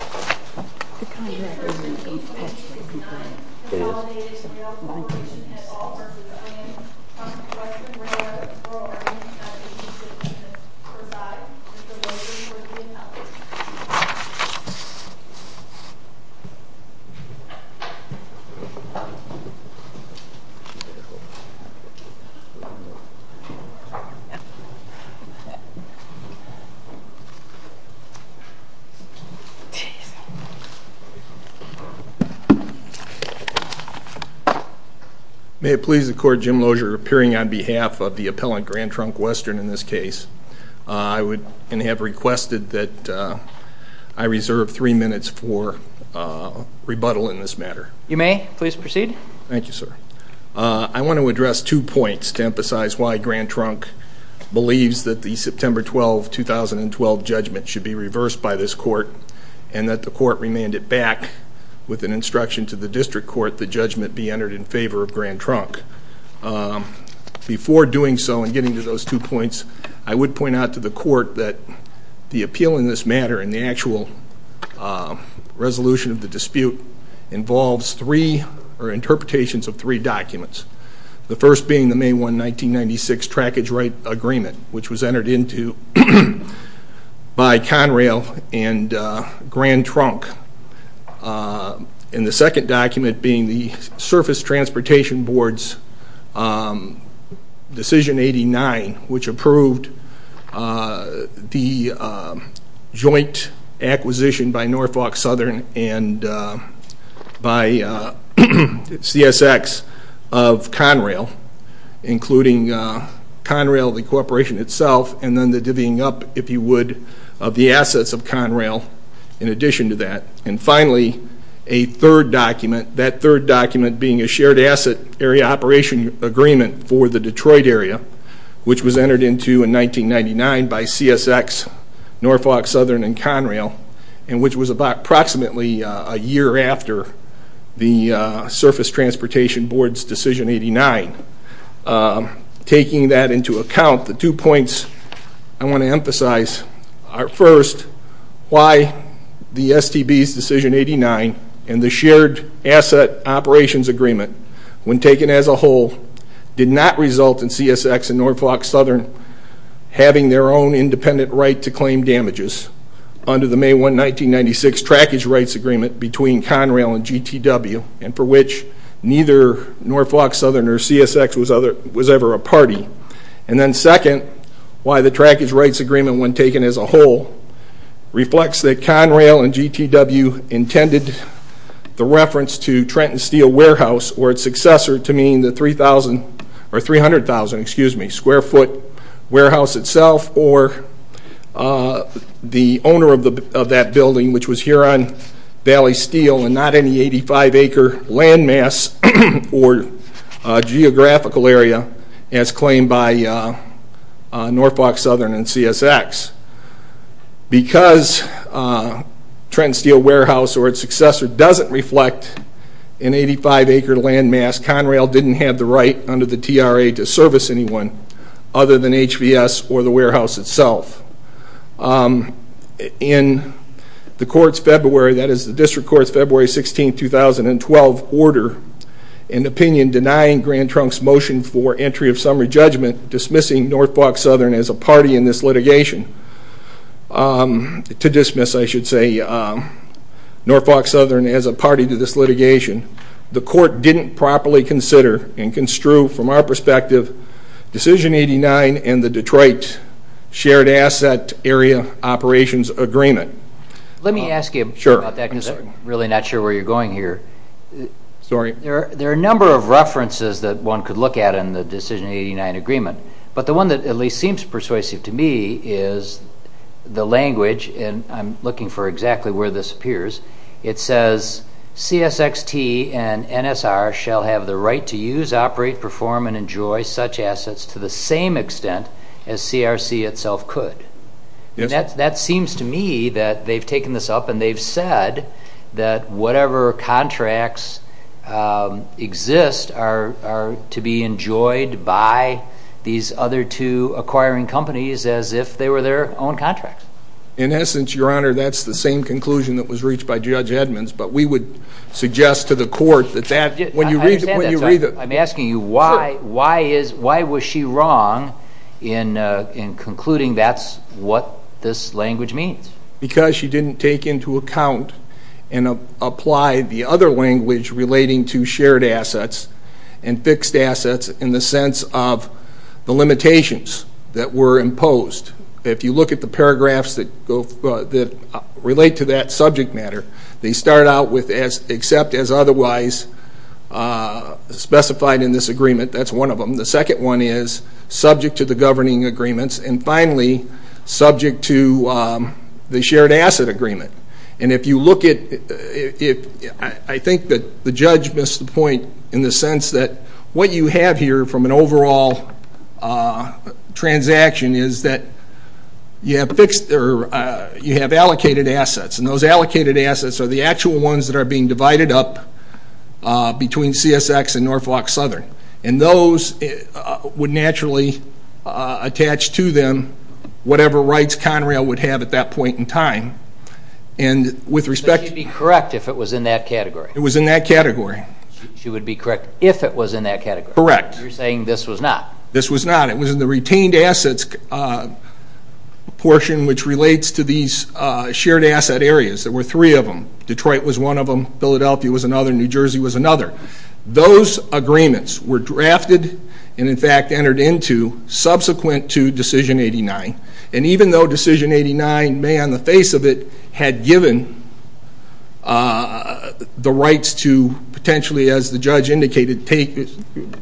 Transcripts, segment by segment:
The contract is in page 69. Consolidated Rail Corporation has offered to claim Grand Trunk Western Railroad for a range of 186 units. Provide that the location for the appellate. May it please the court, Jim Lozier appearing on behalf of the appellate Grand Trunk Western in this case. I would have requested that I reserve three minutes for rebuttal in this matter. You may please proceed. Thank you, sir. I want to address two points to emphasize why Grand Trunk believes that the September 12, 2012 judgment should be reversed by this court and that the court remand it back with an instruction to the district court the judgment be entered in favor of Grand Trunk. Before doing so and getting to those two points, I would point out to the court that the appeal in this matter and the actual resolution of the dispute involves three or interpretations of three documents. The first being the May 1, 1996 trackage right agreement which was entered into by Conrail and Grand Trunk. And the second document being the Surface Transportation Board's decision 89 which approved the joint acquisition by Norfolk Southern and by CSX of Conrail including Conrail the corporation itself and then the divvying up, if you would, of the assets of Conrail in addition to that. And finally, a third document, that third document being a shared asset area operation agreement for the Detroit area which was entered into in 1999 by CSX, Norfolk Southern and Conrail and which was approximately a year after the Surface Transportation Board's decision 89. Taking that into account, the two points I want to emphasize are first, why the STB's decision 89 and the shared asset operations agreement when taken as a whole did not result in CSX and Norfolk Southern having their own independent right to claim damages under the May 1, 1996 trackage rights agreement between Conrail and GTW and for which neither Norfolk Southern or CSX was ever a party. And then second, why the trackage rights agreement when taken as a whole reflects that Conrail and GTW intended the reference to Trenton Steel Warehouse or its successor to mean the 300,000 square foot warehouse itself or the owner of that building which was Huron Valley Steel and not any 85 acre landmass or geographical area as claimed by Norfolk Southern and CSX. Because Trenton Steel Warehouse or its successor doesn't reflect an 85 acre landmass, Conrail didn't have the right under the TRA to service anyone other than HBS or the warehouse itself. In the court's February, that is the district court's February 16, 2012 order, an opinion denying Grand Trunk's motion for entry of summary judgment dismissing Norfolk Southern as a party in this litigation, to dismiss I should say Norfolk Southern as a party to this litigation. The court didn't properly consider and construe from our perspective Decision 89 and the Detroit Shared Asset Area Operations Agreement. Let me ask you about that because I'm really not sure where you're going here. Sorry. There are a number of references that one could look at in the Decision 89 agreement. But the one that at least seems persuasive to me is the language and I'm looking for exactly where this appears. It says CSXT and NSR shall have the right to use, operate, perform and enjoy such assets to the same extent as CRC itself could. That seems to me that they've taken this up and they've said that whatever contracts exist are to be enjoyed by these other two acquiring companies as if they were their own contracts. In essence, your honor, that's the same conclusion that was reached by Judge Edmonds, but we would suggest to the court that when you read it. I'm asking you why was she wrong in concluding that's what this language means? Because she didn't take into account and apply the other language relating to shared assets and fixed assets in the sense of the limitations that were imposed. If you look at the paragraphs that relate to that subject matter, they start out with except as otherwise specified in this agreement. That's one of them. The second one is subject to the governing agreements. And finally, subject to the shared asset agreement. And if you look at it, I think that the judge missed the point in the sense that what you have here from an overall transaction is that you have allocated assets. And those allocated assets are the actual ones that are being divided up between CSX and Norfolk Southern. And those would naturally attach to them whatever rights Conrail would have at that point in time. And with respect to... So she'd be correct if it was in that category? It was in that category. She would be correct if it was in that category? Correct. You're saying this was not? This was not. It was in the retained assets portion which relates to these shared asset areas. There were three of them. Detroit was one of them. Philadelphia was another. New Jersey was another. Those agreements were drafted and, in fact, entered into subsequent to Decision 89. And even though Decision 89 may on the face of it had given the rights to potentially, as the judge indicated,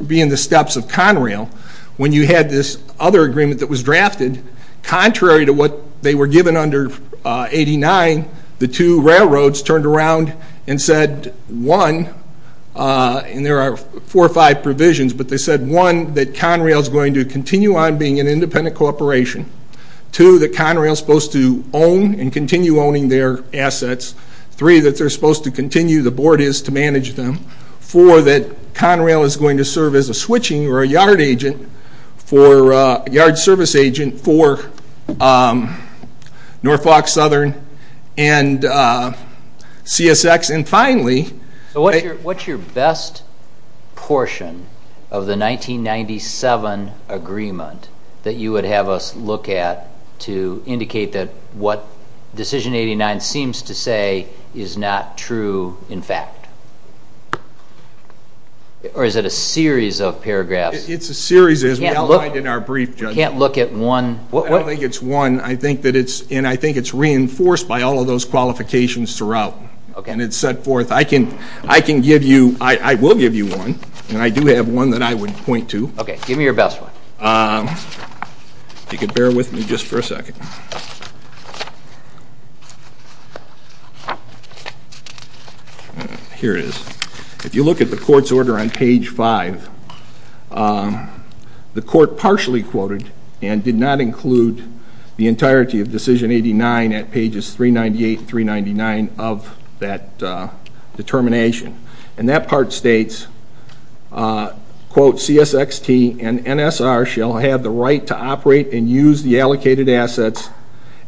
be in the steps of Conrail, when you had this other agreement that was drafted, contrary to what they were given under 89, the two railroads turned around and said, one, and there are four or five provisions, but they said, one, that Conrail is going to continue on being an independent corporation. Two, that Conrail is supposed to own and continue owning their assets. Three, that they're supposed to continue, the board is, to manage them. Four, that Conrail is going to serve as a switching or a yard service agent for Norfolk Southern and CSX. And finally, What's your best portion of the 1997 agreement that you would have us look at to indicate that what Decision 89 seems to say is not true, in fact? Or is it a series of paragraphs? It's a series, as we outlined in our brief, Judge. I can't look at one. I don't think it's one. I think that it's reinforced by all of those qualifications throughout. And it's set forth. I can give you, I will give you one, and I do have one that I would point to. Okay. Give me your best one. If you could bear with me just for a second. Here it is. If you look at the court's order on page 5, the court partially quoted and did not include the entirety of Decision 89 at pages 398 and 399 of that determination. And that part states, quote, CSXT and NSR shall have the right to operate and use the allocated assets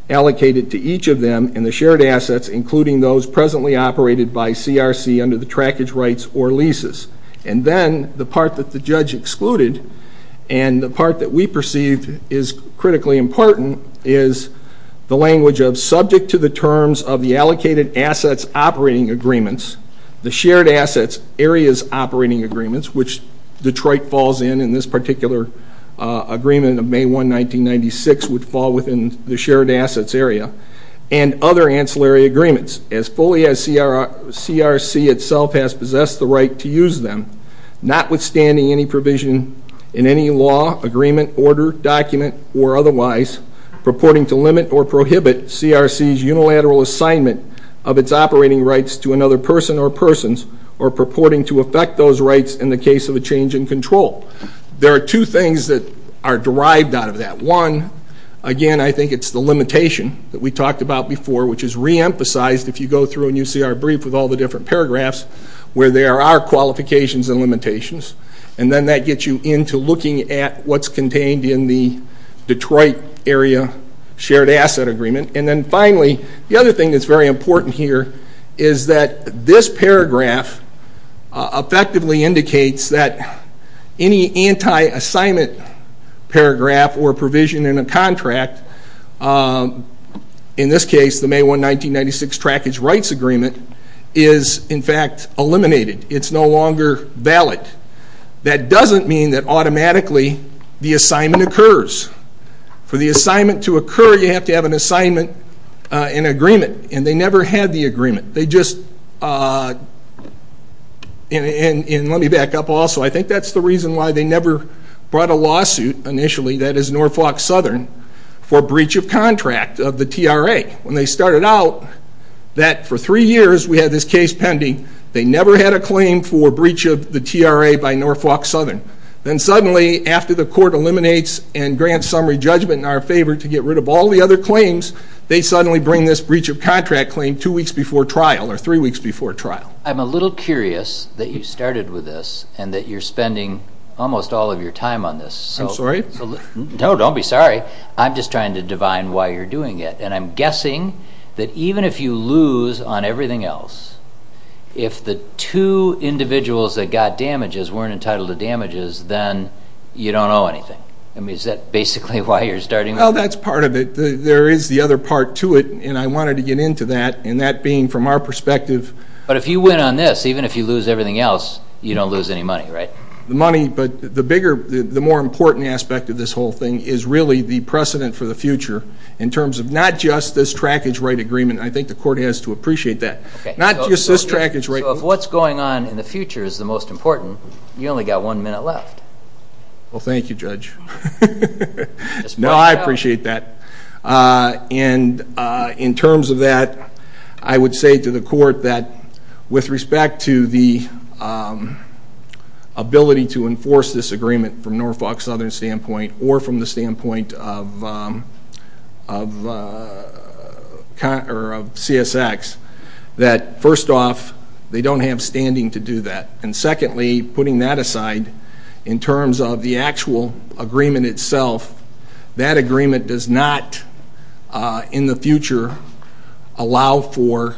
allocated to each of them and the shared assets including those presently operated by CRC under the trackage rights or leases. And then the part that the judge excluded and the part that we perceived is critically important is the language of subject to the terms of the allocated assets operating agreements, the shared assets areas operating agreements, which Detroit falls in in this particular agreement of May 1, 1996, would fall within the shared assets area, and other ancillary agreements as fully as CRC itself has possessed the right to use them, notwithstanding any provision in any law, agreement, order, document, or otherwise purporting to limit or prohibit CRC's unilateral assignment of its operating rights to another person or persons or purporting to affect those rights in the case of a change in control. There are two things that are derived out of that. One, again, I think it's the limitation that we talked about before, which is reemphasized if you go through and you see our brief with all the different paragraphs where there are qualifications and limitations. And then that gets you into looking at what's contained in the Detroit area shared asset agreement. And then, finally, the other thing that's very important here is that this paragraph effectively indicates that any anti-assignment paragraph or provision in a contract, in this case the May 1, 1996 trackage rights agreement, is in fact eliminated. It's no longer valid. That doesn't mean that automatically the assignment occurs. For the assignment to occur, you have to have an assignment in agreement. And they never had the agreement. They just, and let me back up also, I think that's the reason why they never brought a lawsuit initially, that is Norfolk Southern, for breach of contract of the TRA. When they started out, that for three years we had this case pending, they never had a claim for breach of the TRA by Norfolk Southern. Then suddenly, after the court eliminates and grants summary judgment in our favor to get rid of all the other claims, they suddenly bring this breach of contract claim two weeks before trial or three weeks before trial. I'm a little curious that you started with this and that you're spending almost all of your time on this. I'm sorry? No, don't be sorry. I'm just trying to divine why you're doing it. And I'm guessing that even if you lose on everything else, if the two individuals that got damages weren't entitled to damages, then you don't owe anything. I mean, is that basically why you're starting? Well, that's part of it. There is the other part to it, and I wanted to get into that, and that being from our perspective. But if you win on this, even if you lose everything else, you don't lose any money, right? The money, but the bigger, the more important aspect of this whole thing is really the precedent for the future in terms of not just this trackage right agreement. I think the court has to appreciate that. Not just this trackage right. So if what's going on in the future is the most important, you only got one minute left. Well, thank you, Judge. No, I appreciate that. And in terms of that, I would say to the court that with respect to the ability to enforce this agreement from Norfolk Southern's standpoint or from the standpoint of CSX, that first off, they don't have standing to do that. And secondly, putting that aside, in terms of the actual agreement itself, that agreement does not, in the future, allow for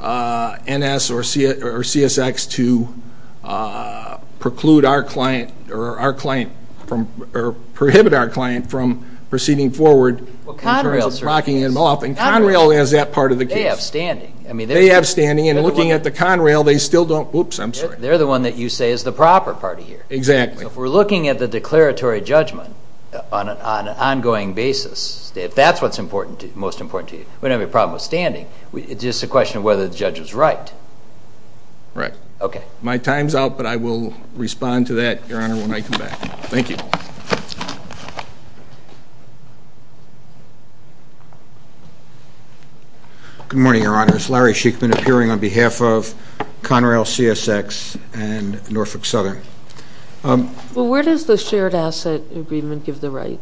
NS or CSX to preclude our client or prohibit our client from proceeding forward. Well, Conrail certainly does. And Conrail is that part of the case. They have standing. They have standing, and looking at the Conrail, they still don't. Oops, I'm sorry. They're the one that you say is the proper party here. Exactly. So if we're looking at the declaratory judgment on an ongoing basis, if that's what's most important to you, we don't have a problem with standing. It's just a question of whether the judge was right. Right. Okay. My time's out, but I will respond to that, Your Honor, when I come back. Thank you. Good morning, Your Honors. Larry Sheikman, appearing on behalf of Conrail, CSX, and Norfolk Southern. Well, where does the shared asset agreement give the right?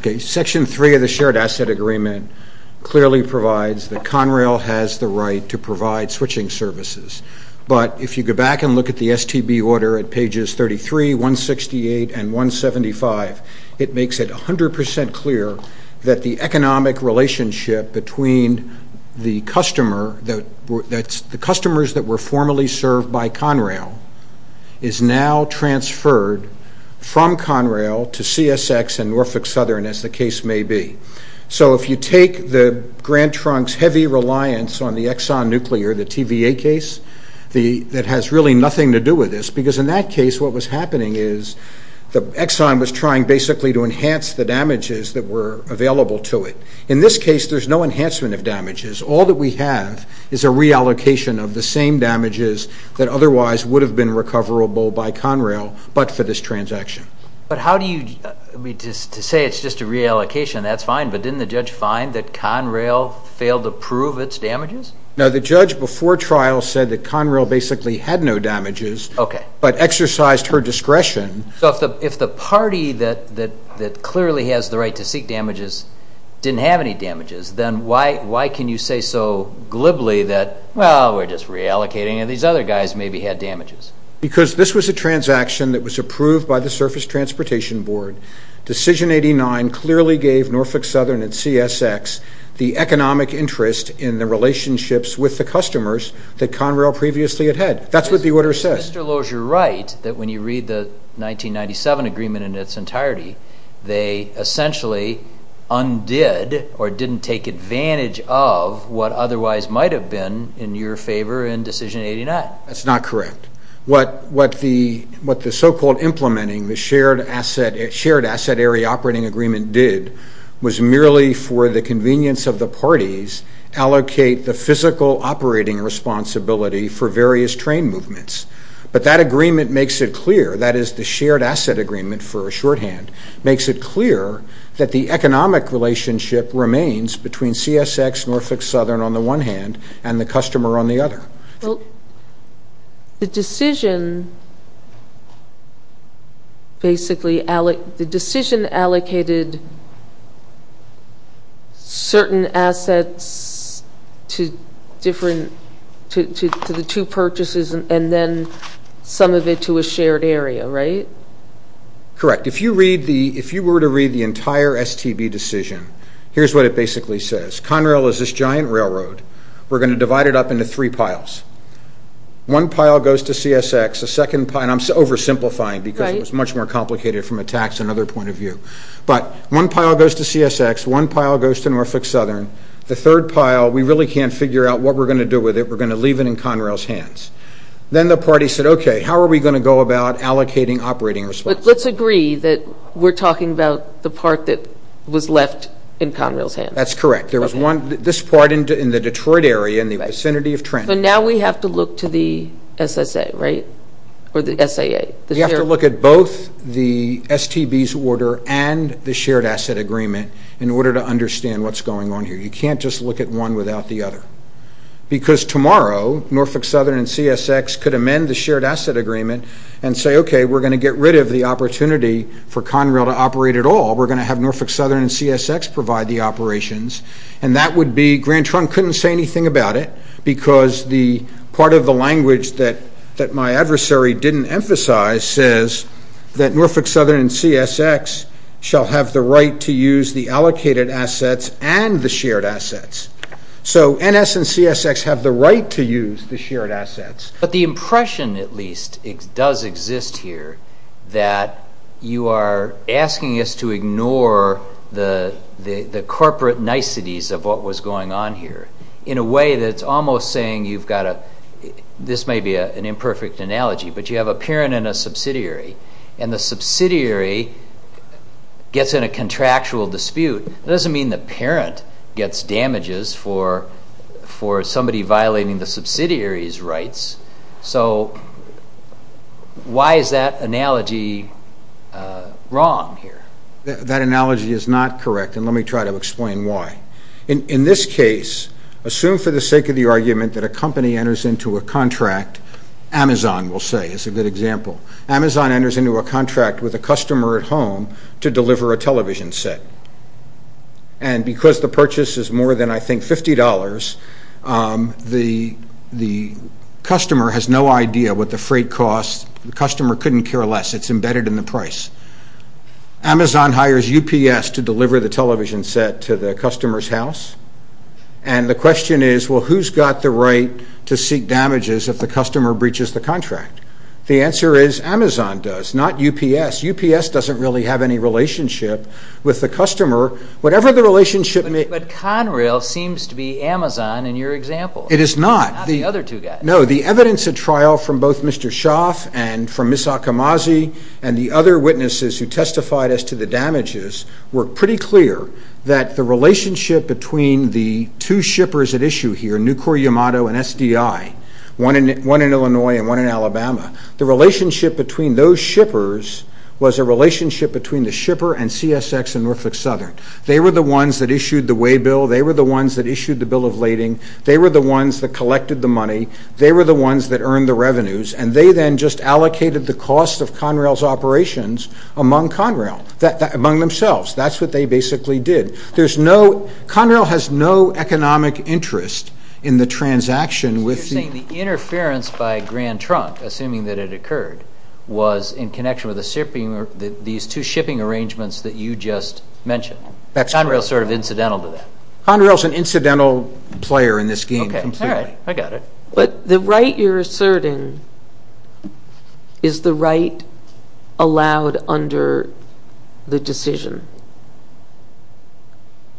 Okay. Section 3 of the shared asset agreement clearly provides that Conrail has the right to provide switching services. But if you go back and look at the STB order at pages 33, 168, and 169, it makes it 100% clear that the economic relationship between the customers that were formerly served by Conrail is now transferred from Conrail to CSX and Norfolk Southern, as the case may be. So if you take Grant Trunk's heavy reliance on the Exxon Nuclear, the TVA case, that has really nothing to do with this, because in that case what was happening is the Exxon was trying basically to enhance the damages that were available to it. In this case, there's no enhancement of damages. All that we have is a reallocation of the same damages that otherwise would have been recoverable by Conrail, but for this transaction. But how do you, I mean, to say it's just a reallocation, that's fine, but didn't the judge find that Conrail failed to prove its damages? No, the judge before trial said that Conrail basically had no damages, but exercised her discretion. So if the party that clearly has the right to seek damages didn't have any damages, then why can you say so glibly that, well, we're just reallocating and these other guys maybe had damages? Because this was a transaction that was approved by the Surface Transportation Board. Decision 89 clearly gave Norfolk Southern and CSX the economic interest in the relationships with the customers that Conrail previously had had. That's what the order says. Mr. Lowe, is your right that when you read the 1997 agreement in its entirety, they essentially undid or didn't take advantage of what otherwise might have been in your favor in decision 89? That's not correct. What the so-called implementing the Shared Asset Area Operating Agreement did was merely for the convenience of the parties, allocate the physical operating responsibility for various train movements. But that agreement makes it clear, that is the Shared Asset Agreement for a shorthand, makes it clear that the economic relationship remains between CSX, Norfolk Southern on the one hand, and the customer on the other. The decision basically allocated certain assets to the two purchases and then some of it to a shared area, right? Correct. If you were to read the entire STB decision, here's what it basically says. Conrail is this giant railroad. We're going to divide it up into three piles. One pile goes to CSX. The second pile, and I'm oversimplifying because it was much more complicated from a tax and other point of view. But one pile goes to CSX. One pile goes to Norfolk Southern. The third pile, we really can't figure out what we're going to do with it. We're going to leave it in Conrail's hands. Then the parties said, okay, how are we going to go about allocating operating responsibility? But let's agree that we're talking about the part that was left in Conrail's hands. That's correct. This part in the Detroit area in the vicinity of Trent. So now we have to look to the SSA, right, or the SAA? We have to look at both the STB's order and the shared asset agreement in order to understand what's going on here. You can't just look at one without the other. Because tomorrow, Norfolk Southern and CSX could amend the shared asset agreement and say, okay, we're going to get rid of the opportunity for Conrail to operate at all. We're going to have Norfolk Southern and CSX provide the operations. And that would be, Grant Trunk couldn't say anything about it because part of the language that my adversary didn't emphasize says that Norfolk Southern and CSX shall have the right to use the allocated assets and the shared assets. So NS and CSX have the right to use the shared assets. But the impression, at least, does exist here that you are asking us to ignore the corporate niceties of what was going on here in a way that's almost saying you've got a, this may be an imperfect analogy, but you have a parent and a subsidiary, and the subsidiary gets in a contractual dispute. That doesn't mean the parent gets damages for somebody violating the subsidiary's rights. So why is that analogy wrong here? That analogy is not correct, and let me try to explain why. In this case, assume for the sake of the argument that a company enters into a contract. Amazon, we'll say, is a good example. Amazon enters into a contract with a customer at home to deliver a television set, and because the purchase is more than, I think, $50, the customer has no idea what the freight costs. The customer couldn't care less. It's embedded in the price. Amazon hires UPS to deliver the television set to the customer's house, and the question is, well, who's got the right to seek damages if the customer breaches the contract? The answer is Amazon does, not UPS. UPS doesn't really have any relationship with the customer. Whatever the relationship may be. But Conrail seems to be Amazon in your example. It is not. Not the other two guys. No, the evidence at trial from both Mr. Schaaf and from Ms. Akamazi and the other witnesses who testified as to the damages were pretty clear that the relationship between the two shippers at issue here, Nucor Yamato and SDI, one in Illinois and one in Alabama, the relationship between those shippers was a relationship between the shipper and CSX and Norfolk Southern. They were the ones that issued the way bill. They were the ones that issued the bill of lading. They were the ones that collected the money. They were the ones that earned the revenues, and they then just allocated the cost of Conrail's operations among Conrail, among themselves. That's what they basically did. Conrail has no economic interest in the transaction with the- So you're saying the interference by Grand Trunk, assuming that it occurred, was in connection with these two shipping arrangements that you just mentioned. That's correct. Conrail is sort of incidental to that. Conrail is an incidental player in this game completely. Okay, all right. I got it. But the right you're asserting, is the right allowed under the decision?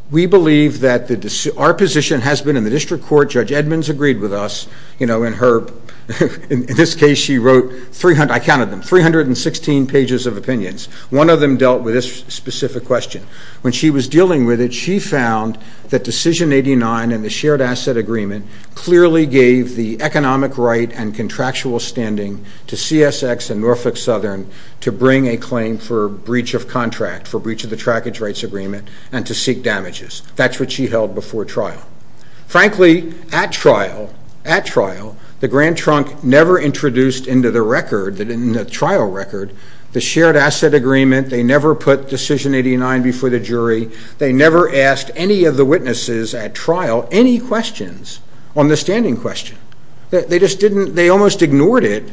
We believe that our position has been in the district court. Judge Edmonds agreed with us. In this case, she wrote, I counted them, 316 pages of opinions. One of them dealt with this specific question. When she was dealing with it, she found that Decision 89 and the shared asset agreement clearly gave the economic right and contractual standing to CSX and Norfolk Southern to bring a claim for breach of contract, for breach of the trackage rights agreement, and to seek damages. That's what she held before trial. Frankly, at trial, at trial, the Grand Trunk never introduced into the record, in the trial record, the shared asset agreement. They never put Decision 89 before the jury. They never asked any of the witnesses at trial any questions on the standing question. They just didn't, they almost ignored it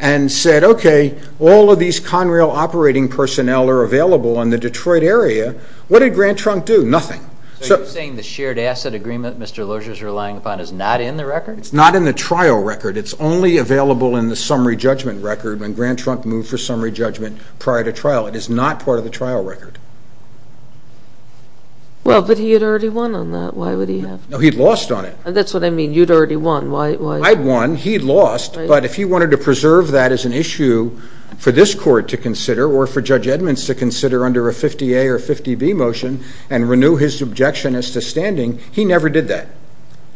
and said, okay, all of these Conrail operating personnel are available in the Detroit area. What did Grand Trunk do? Nothing. So you're saying the shared asset agreement Mr. Lozier is relying upon is not in the record? It's not in the trial record. It's only available in the summary judgment record when Grand Trunk moved for summary judgment prior to trial. It is not part of the trial record. But he had already won on that. Why would he have? No, he'd lost on it. That's what I mean. You'd already won. I'd won. He'd lost. But if he wanted to preserve that as an issue for this court to consider or for Judge Edmonds to consider under a 50A or 50B motion and renew his objection as to standing, he never did that.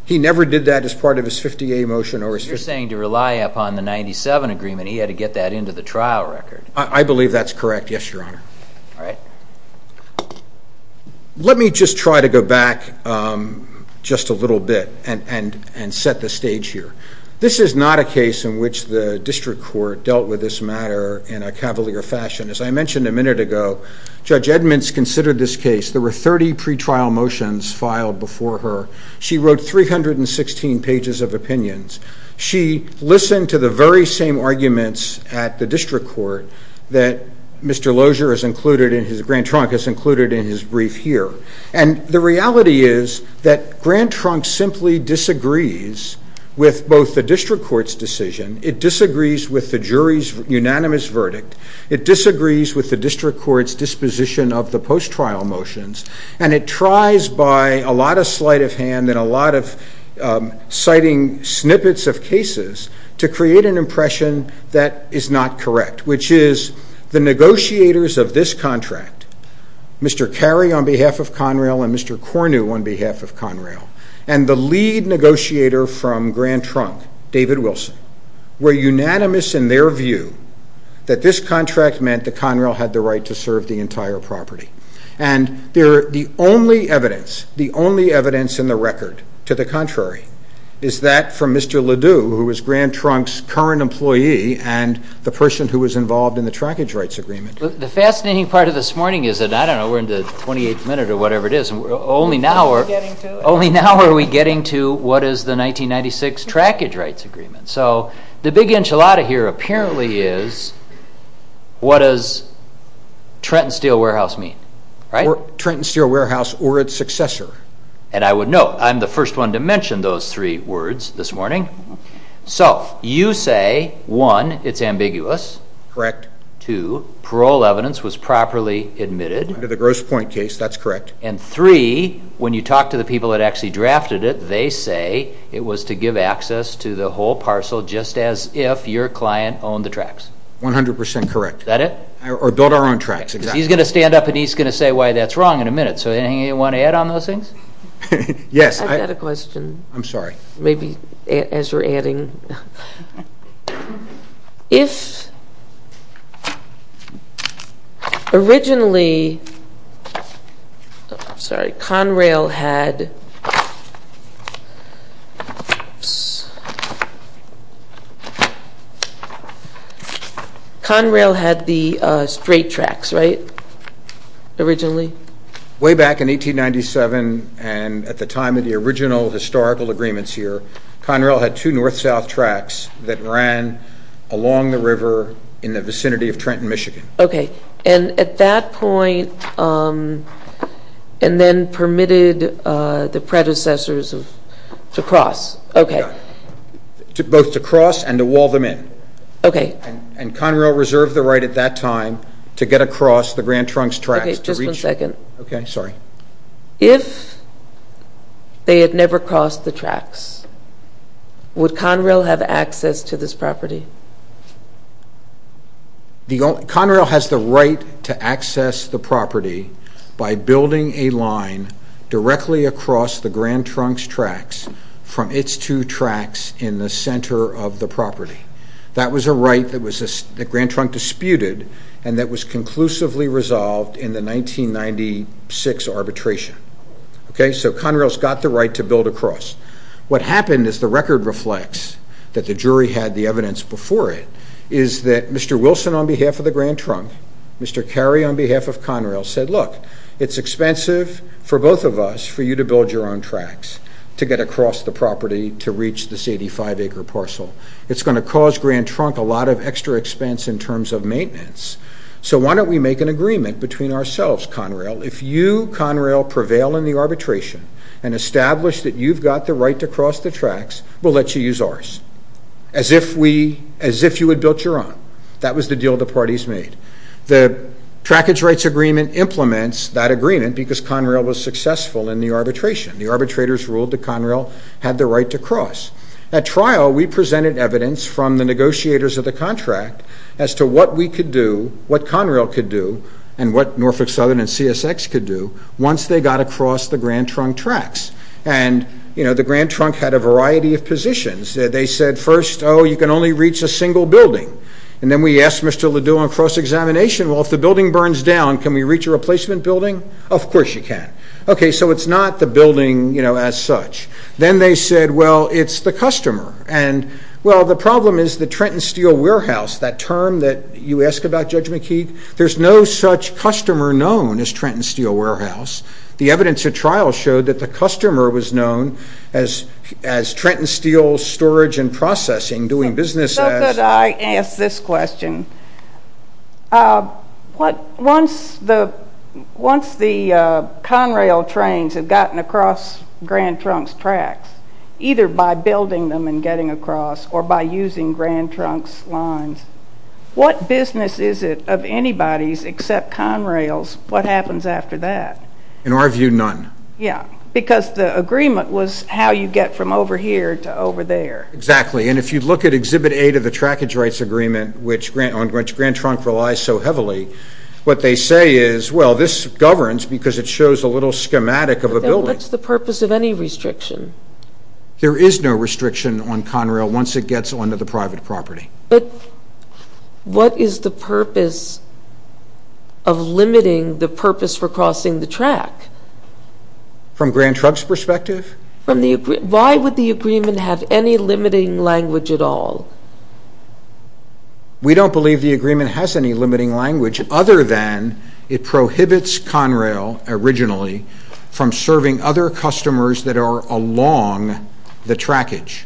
He never did that as part of his 50A motion. You're saying to rely upon the 97 agreement he had to get that into the trial record. I believe that's correct, yes, Your Honor. All right. Let me just try to go back just a little bit and set the stage here. This is not a case in which the district court dealt with this matter in a cavalier fashion. As I mentioned a minute ago, Judge Edmonds considered this case. There were 30 pretrial motions filed before her. She wrote 316 pages of opinions. She listened to the very same arguments at the district court that Mr. Lozier has included, Grant Trunk has included in his brief here. And the reality is that Grant Trunk simply disagrees with both the district court's decision, it disagrees with the jury's unanimous verdict, it disagrees with the district court's disposition of the post-trial motions, and it tries by a lot of sleight of hand and a lot of citing snippets of cases to create an impression that is not correct, which is the negotiators of this contract, Mr. Carey on behalf of Conrail and Mr. Cornu on behalf of Conrail, and the lead negotiator from Grant Trunk, David Wilson, were unanimous in their view that this contract meant that Conrail had the right to serve the entire property. And the only evidence, the only evidence in the record, to the contrary, is that from Mr. Ledoux, who is Grant Trunk's current employee, and the person who was involved in the trackage rights agreement. The fascinating part of this morning is that, I don't know, we're in the 28th minute or whatever it is, only now are we getting to what is the 1996 trackage rights agreement. So, the big enchilada here apparently is, what does Trenton Steel Warehouse mean? Trenton Steel Warehouse or its successor. And I would note, I'm the first one to mention those three words this morning. So, you say, one, it's ambiguous. Correct. Two, parole evidence was properly admitted. Under the gross point case, that's correct. And three, when you talk to the people that actually drafted it, they say it was to give access to the whole parcel just as if your client owned the tracks. One hundred percent correct. Is that it? Or built our own tracks. He's going to stand up and he's going to say why that's wrong in a minute. So, anything you want to add on those things? Yes. I've got a question. I'm sorry. Maybe as you're adding. If originally, sorry, Conrail had the straight tracks, right, originally? Way back in 1897 and at the time of the original historical agreements here, there were two north-south tracks that ran along the river in the vicinity of Trenton, Michigan. Okay. And at that point, and then permitted the predecessors to cross. Okay. Both to cross and to wall them in. Okay. And Conrail reserved the right at that time to get across the Grand Trunks tracks. Okay, just one second. Okay, sorry. If they had never crossed the tracks, would Conrail have access to this property? Conrail has the right to access the property by building a line directly across the Grand Trunks tracks from its two tracks in the center of the property. That was a right that Grand Trunk disputed and that was conclusively resolved in the 1996 arbitration. Okay, so Conrail's got the right to build across. What happened, as the record reflects, that the jury had the evidence before it, is that Mr. Wilson, on behalf of the Grand Trunk, Mr. Carey, on behalf of Conrail, said, look, it's expensive for both of us for you to build your own tracks to get across the property to reach this 85-acre parcel. It's going to cause Grand Trunk a lot of extra expense in terms of maintenance. So why don't we make an agreement between ourselves, Conrail, if you, Conrail, prevail in the arbitration and establish that you've got the right to cross the tracks, we'll let you use ours, as if you had built your own. That was the deal the parties made. The Trackage Rights Agreement implements that agreement because Conrail was successful in the arbitration. The arbitrators ruled that Conrail had the right to cross. At trial, we presented evidence from the negotiators of the contract as to what we could do, what Conrail could do, and what Norfolk Southern and CSX could do, once they got across the Grand Trunk tracks. And, you know, the Grand Trunk had a variety of positions. They said, first, oh, you can only reach a single building. And then we asked Mr. Ledoux on cross-examination, well, if the building burns down, can we reach a replacement building? Of course you can. Okay, so it's not the building, you know, as such. Then they said, well, it's the customer. And, well, the problem is the Trenton Steel Warehouse, that term that you ask about, Judge McKeague, there's no such customer known as Trenton Steel Warehouse. The evidence at trial showed that the customer was known as Trenton Steel Storage and Processing, doing business as. Could I ask this question? Once the Conrail trains have gotten across Grand Trunk's tracks, either by building them and getting across or by using Grand Trunk's lines, what business is it of anybody's except Conrail's what happens after that? In our view, none. Yeah, because the agreement was how you get from over here to over there. Exactly, and if you look at Exhibit A to the trackage rights agreement on which Grand Trunk relies so heavily, what they say is, well, this governs because it shows a little schematic of a building. Then what's the purpose of any restriction? There is no restriction on Conrail once it gets onto the private property. But what is the purpose of limiting the purpose for crossing the track? From Grand Trunk's perspective? Why would the agreement have any limiting language at all? We don't believe the agreement has any limiting language other than it prohibits Conrail originally from serving other customers that are along the trackage.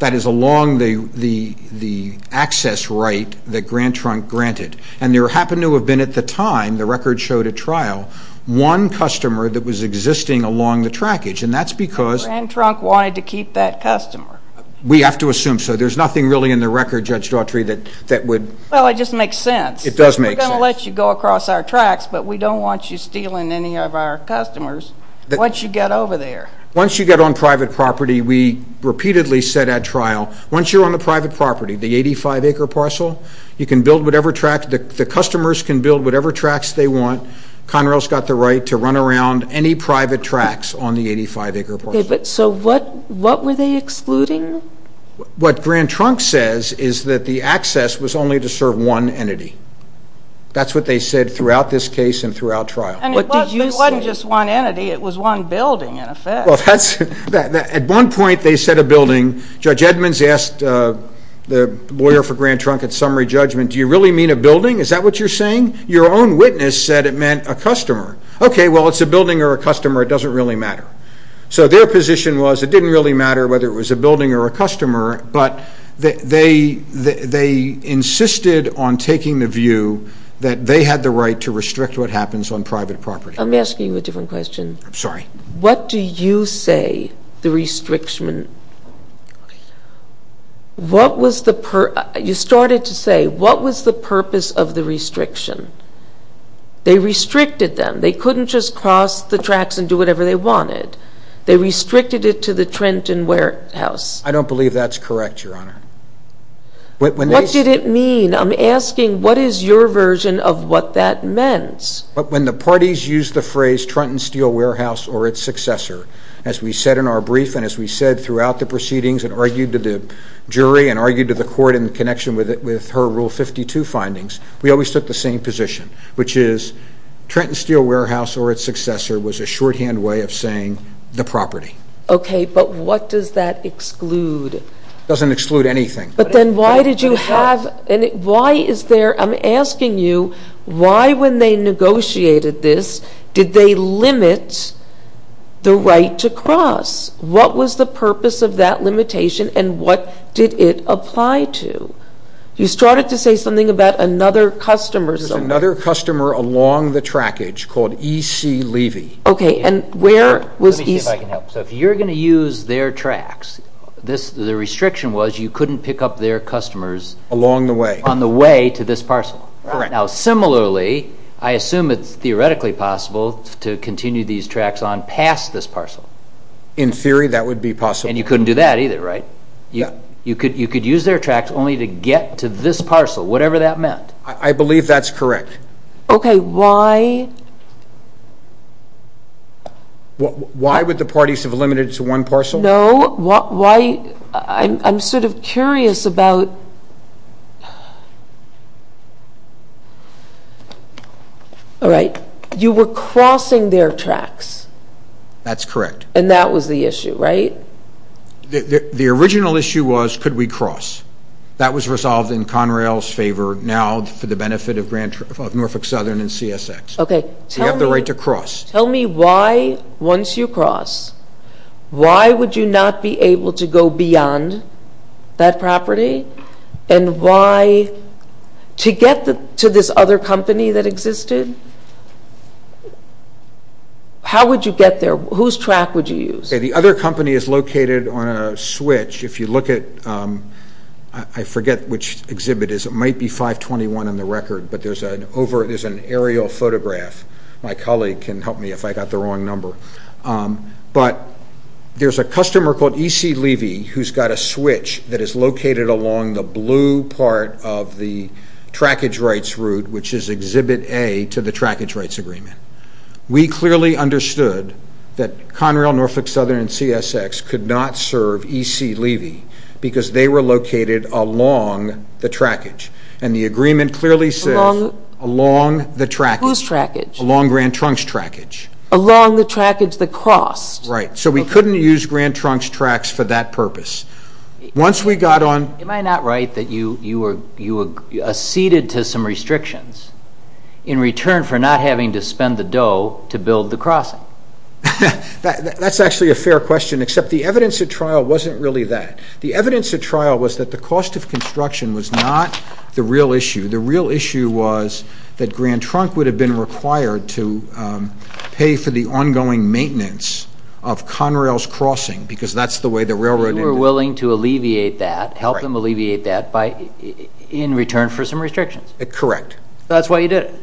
That is, along the access right that Grand Trunk granted. And there happened to have been at the time, the record showed at trial, one customer that was existing along the trackage, and that's because Grand Trunk wanted to keep that customer. We have to assume so. There's nothing really in the record, Judge Daughtry, that would Well, it just makes sense. It does make sense. We're going to let you go across our tracks, but we don't want you stealing any of our customers once you get over there. Once you get on private property, we repeatedly said at trial, once you're on the private property, the 85-acre parcel, you can build whatever track, the customers can build whatever tracks they want. Conrail's got the right to run around any private tracks on the 85-acre parcel. So what were they excluding? What Grand Trunk says is that the access was only to serve one entity. That's what they said throughout this case and throughout trial. It wasn't just one entity. It was one building, in effect. At one point, they said a building. Judge Edmonds asked the lawyer for Grand Trunk at summary judgment, Do you really mean a building? Is that what you're saying? Your own witness said it meant a customer. Okay, well, it's a building or a customer. It doesn't really matter. So their position was it didn't really matter whether it was a building or a customer, but they insisted on taking the view that they had the right to restrict what happens on private property. Let me ask you a different question. I'm sorry. What do you say the restriction You started to say, what was the purpose of the restriction? They restricted them. They couldn't just cross the tracks and do whatever they wanted. They restricted it to the Trenton Warehouse. I don't believe that's correct, Your Honor. What did it mean? I'm asking what is your version of what that meant? When the parties used the phrase Trenton Steel Warehouse or its successor, as we said in our brief and as we said throughout the proceedings and argued to the jury and argued to the court in connection with her Rule 52 findings, we always took the same position, which is Trenton Steel Warehouse or its successor was a shorthand way of saying the property. Okay, but what does that exclude? It doesn't exclude anything. But then why did you have I'm asking you why when they negotiated this did they limit the right to cross? What was the purpose of that limitation and what did it apply to? You started to say something about another customer. There was another customer along the trackage called E.C. Levy. Okay, and where was E.C. Let me see if I can help. So if you're going to use their tracks, the restriction was you couldn't pick up their customers on the way to this parcel. Now, similarly, I assume it's theoretically possible to continue these tracks on past this parcel. In theory, that would be possible. And you couldn't do that either, right? You could use their tracks only to get to this parcel, whatever that meant. I believe that's correct. Okay, why? Why would the parties have limited it to one parcel? No. Why? I'm sort of curious about All right. You were crossing their tracks. That's correct. And that was the issue, right? The original issue was could we cross? That was resolved in Conrail's favor now for the benefit of Norfolk Southern and CSX. Okay. You have the right to cross. Tell me why once you cross, why would you not be able to go beyond that property? And why, to get to this other company that existed, how would you get there? Whose track would you use? The other company is located on a switch. If you look at, I forget which exhibit it is. It might be 521 on the record, but there's an aerial photograph. My colleague can help me if I got the wrong number. But there's a customer called E.C. Levy who's got a switch that is located along the blue part of the trackage rights route, which is exhibit A to the trackage rights agreement. We clearly understood that Conrail, Norfolk Southern, and CSX could not serve E.C. Levy because they were located along the trackage, and the agreement clearly says along the trackage. Whose trackage? Along Grand Trunks trackage. Along the trackage that crossed. Right, so we couldn't use Grand Trunks tracks for that purpose. Once we got on... Am I not right that you acceded to some restrictions in return for not having to spend the dough to build the crossing? That's actually a fair question, except the evidence at trial wasn't really that. The evidence at trial was that the cost of construction was not the real issue. The real issue was that Grand Trunk would have been required to pay for the ongoing maintenance of Conrail's crossing because that's the way the railroad ended. So you were willing to alleviate that, help them alleviate that, in return for some restrictions. Correct. That's why you did it.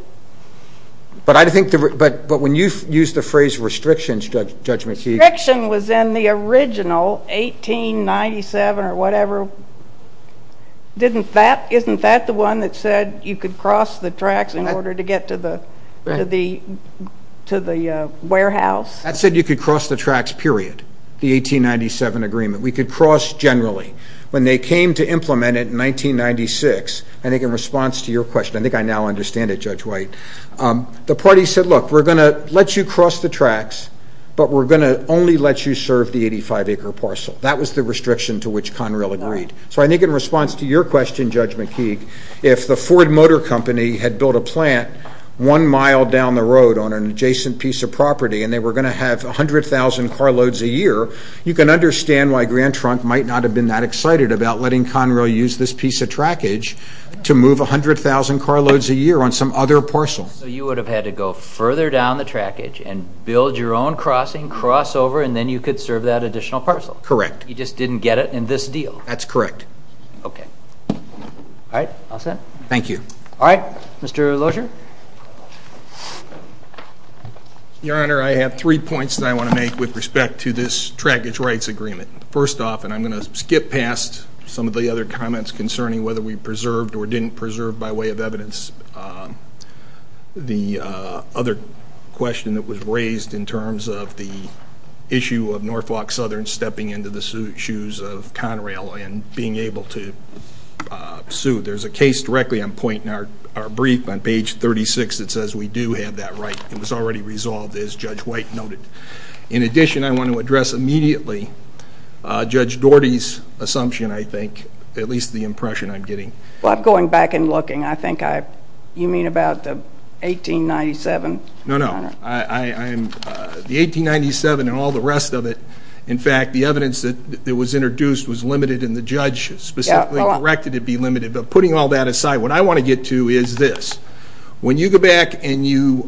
But when you used the phrase restrictions, Judge McKeegan... Restriction was in the original, 1897 or whatever. Isn't that the one that said you could cross the tracks in order to get to the warehouse? That said you could cross the tracks, period, the 1897 agreement. We could cross generally. When they came to implement it in 1996, I think in response to your question, I think I now understand it, Judge White, the party said, look, we're going to let you cross the tracks, but we're going to only let you serve the 85-acre parcel. That was the restriction to which Conrail agreed. So I think in response to your question, Judge McKeegan, if the Ford Motor Company had built a plant one mile down the road on an adjacent piece of property and they were going to have 100,000 carloads a year, you can understand why Grand Trunk might not have been that excited about letting Conrail use this piece of trackage to move 100,000 carloads a year on some other parcel. So you would have had to go further down the trackage and build your own crossing, cross over, and then you could serve that additional parcel? Correct. You just didn't get it in this deal? That's correct. Okay. All right. All set? Thank you. All right. Mr. Lozier? Your Honor, I have three points that I want to make with respect to this trackage rights agreement. First off, and I'm going to skip past some of the other comments concerning whether we preserved or didn't preserve by way of evidence the other question that was raised in terms of the issue of Norfolk Southern stepping into the shoes of Conrail and being able to sue. There's a case directly I'm pointing out, our brief on page 36, that says we do have that right. It was already resolved, as Judge White noted. In addition, I want to address immediately Judge Doherty's assumption, I think, at least the impression I'm getting. Well, going back and looking, I think you mean about the 1897? No, no. The 1897 and all the rest of it, in fact, the evidence that was introduced was limited and the judge specifically directed it be limited. But putting all that aside, what I want to get to is this. When you go back and you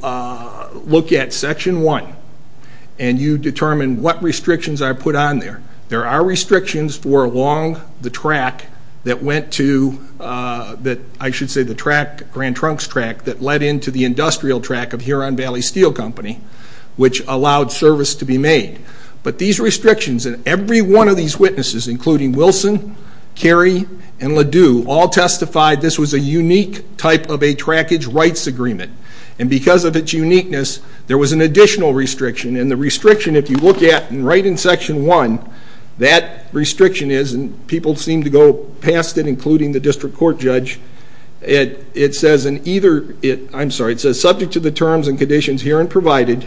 look at Section 1 and you determine what restrictions are put on there, there are restrictions for along the track that went to, that I should say the track, Grand Trunks Track, that led into the industrial track of Huron Valley Steel Company, which allowed service to be made. But these restrictions in every one of these witnesses, including Wilson, Carey, and Ledoux, all testified this was a unique type of a trackage rights agreement. And because of its uniqueness, there was an additional restriction. And the restriction, if you look at and write in Section 1, that restriction is, and people seem to go past it, including the district court judge, it says, subject to the terms and conditions herein provided,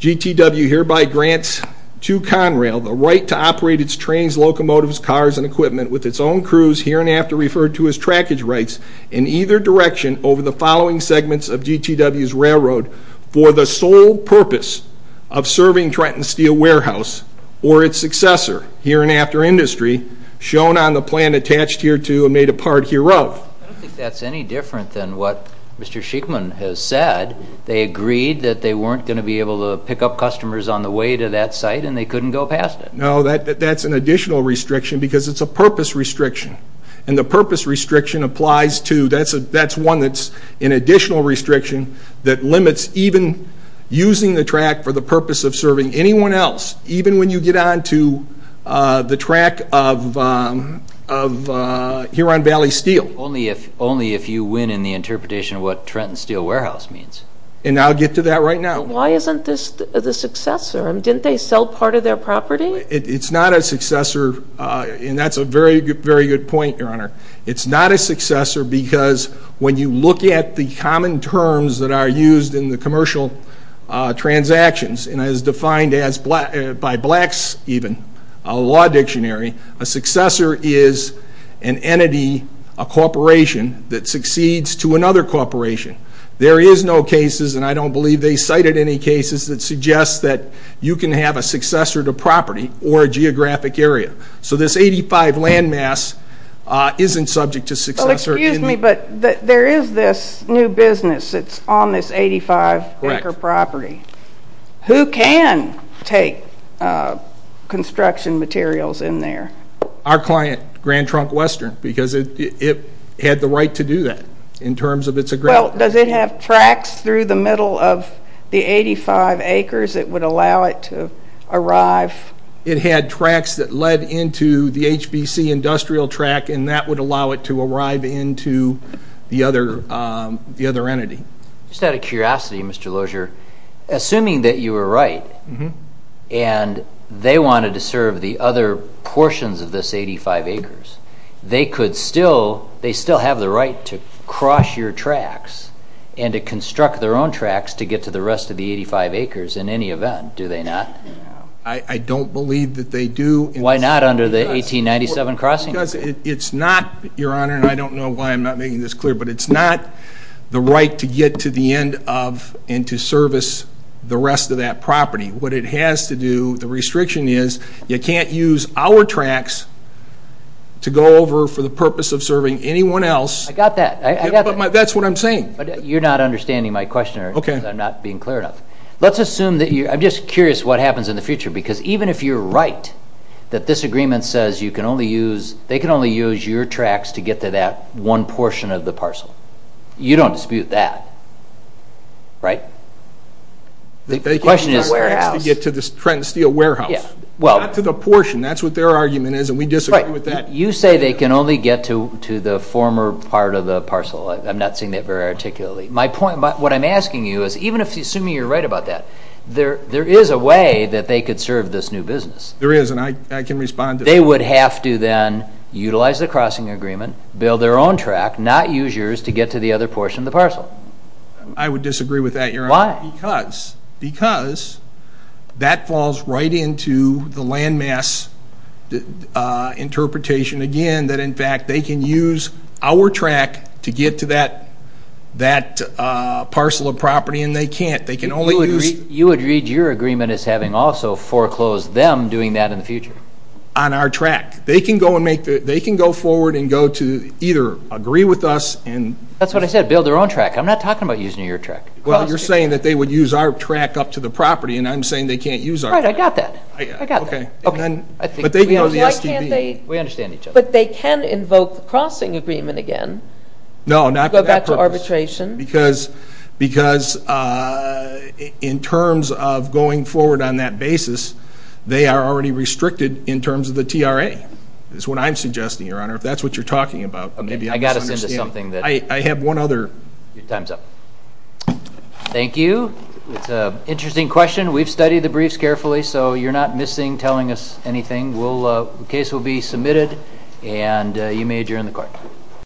GTW hereby grants to Conrail the right to operate its trains, locomotives, cars, and equipment with its own crews hereinafter referred to as trackage rights in either direction over the following segments of GTW's railroad for the sole purpose of serving Trenton Steel Warehouse or its successor, hereinafter industry, shown on the plan attached here to and made a part hereof. I don't think that's any different than what Mr. Schickman has said. They agreed that they weren't going to be able to pick up customers on the way to that site, and they couldn't go past it. No, that's an additional restriction because it's a purpose restriction. And the purpose restriction applies to, that's one that's an additional restriction that limits even using the track for the purpose of serving anyone else, even when you get on to the track of Huron Valley Steel. Only if you win in the interpretation of what Trenton Steel Warehouse means. And I'll get to that right now. Why isn't this the successor? Didn't they sell part of their property? It's not a successor, and that's a very good point, Your Honor. It's not a successor because when you look at the common terms that are used in the commercial transactions, and as defined by Blacks even, a law dictionary, a successor is an entity, a corporation, that succeeds to another corporation. There is no cases, and I don't believe they cited any cases, that suggest that you can have a successor to property or a geographic area. So this 85 land mass isn't subject to successor. Well, excuse me, but there is this new business that's on this 85-acre property. Who can take construction materials in there? Our client, Grand Trunk Western, because it had the right to do that in terms of its agrarian property. Well, does it have tracks through the middle of the 85 acres that would allow it to arrive? It had tracks that led into the HBC industrial track, and that would allow it to arrive into the other entity. Just out of curiosity, Mr. Lozier, assuming that you were right and they wanted to serve the other portions of this 85 acres, they still have the right to cross your tracks and to construct their own tracks to get to the rest of the 85 acres in any event, do they not? I don't believe that they do. Why not under the 1897 crossing? Because it's not, Your Honor, and I don't know why I'm not making this clear, but it's not the right to get to the end of and to service the rest of that property. What it has to do, the restriction is you can't use our tracks to go over for the purpose of serving anyone else. I got that. That's what I'm saying. You're not understanding my question because I'm not being clear enough. Let's assume that you're, I'm just curious what happens in the future, because even if you're right that this agreement says you can only use, they can only use your tracks to get to that one portion of the parcel, you don't dispute that, right? The question is the warehouse. They can use our tracks to get to the Trenton Steel warehouse, not to the portion. That's what their argument is, and we disagree with that. You say they can only get to the former part of the parcel. I'm not seeing that very articulately. My point, what I'm asking you is, even assuming you're right about that, there is a way that they could serve this new business. There is, and I can respond to that. They would have to then utilize the crossing agreement, build their own track, not use yours to get to the other portion of the parcel. I would disagree with that, Your Honor. Why? Because that falls right into the landmass interpretation again, that, in fact, they can use our track to get to that parcel of property, and they can't. They can only use. You would read your agreement as having also foreclosed them doing that in the future. On our track. They can go forward and go to either agree with us. That's what I said, build their own track. I'm not talking about using your track. Well, you're saying that they would use our track up to the property, and I'm saying they can't use our track. Right, I got that. I got that. Okay. But they can go to the STB. We understand each other. But they can invoke the crossing agreement again. No, not for that purpose. Go back to arbitration. Because in terms of going forward on that basis, they are already restricted in terms of the TRA is what I'm suggesting, Your Honor, if that's what you're talking about. I got us into something. I have one other. Your time's up. Thank you. It's an interesting question. We've studied the briefs carefully, so you're not missing telling us anything. The case will be submitted, and you may adjourn the court.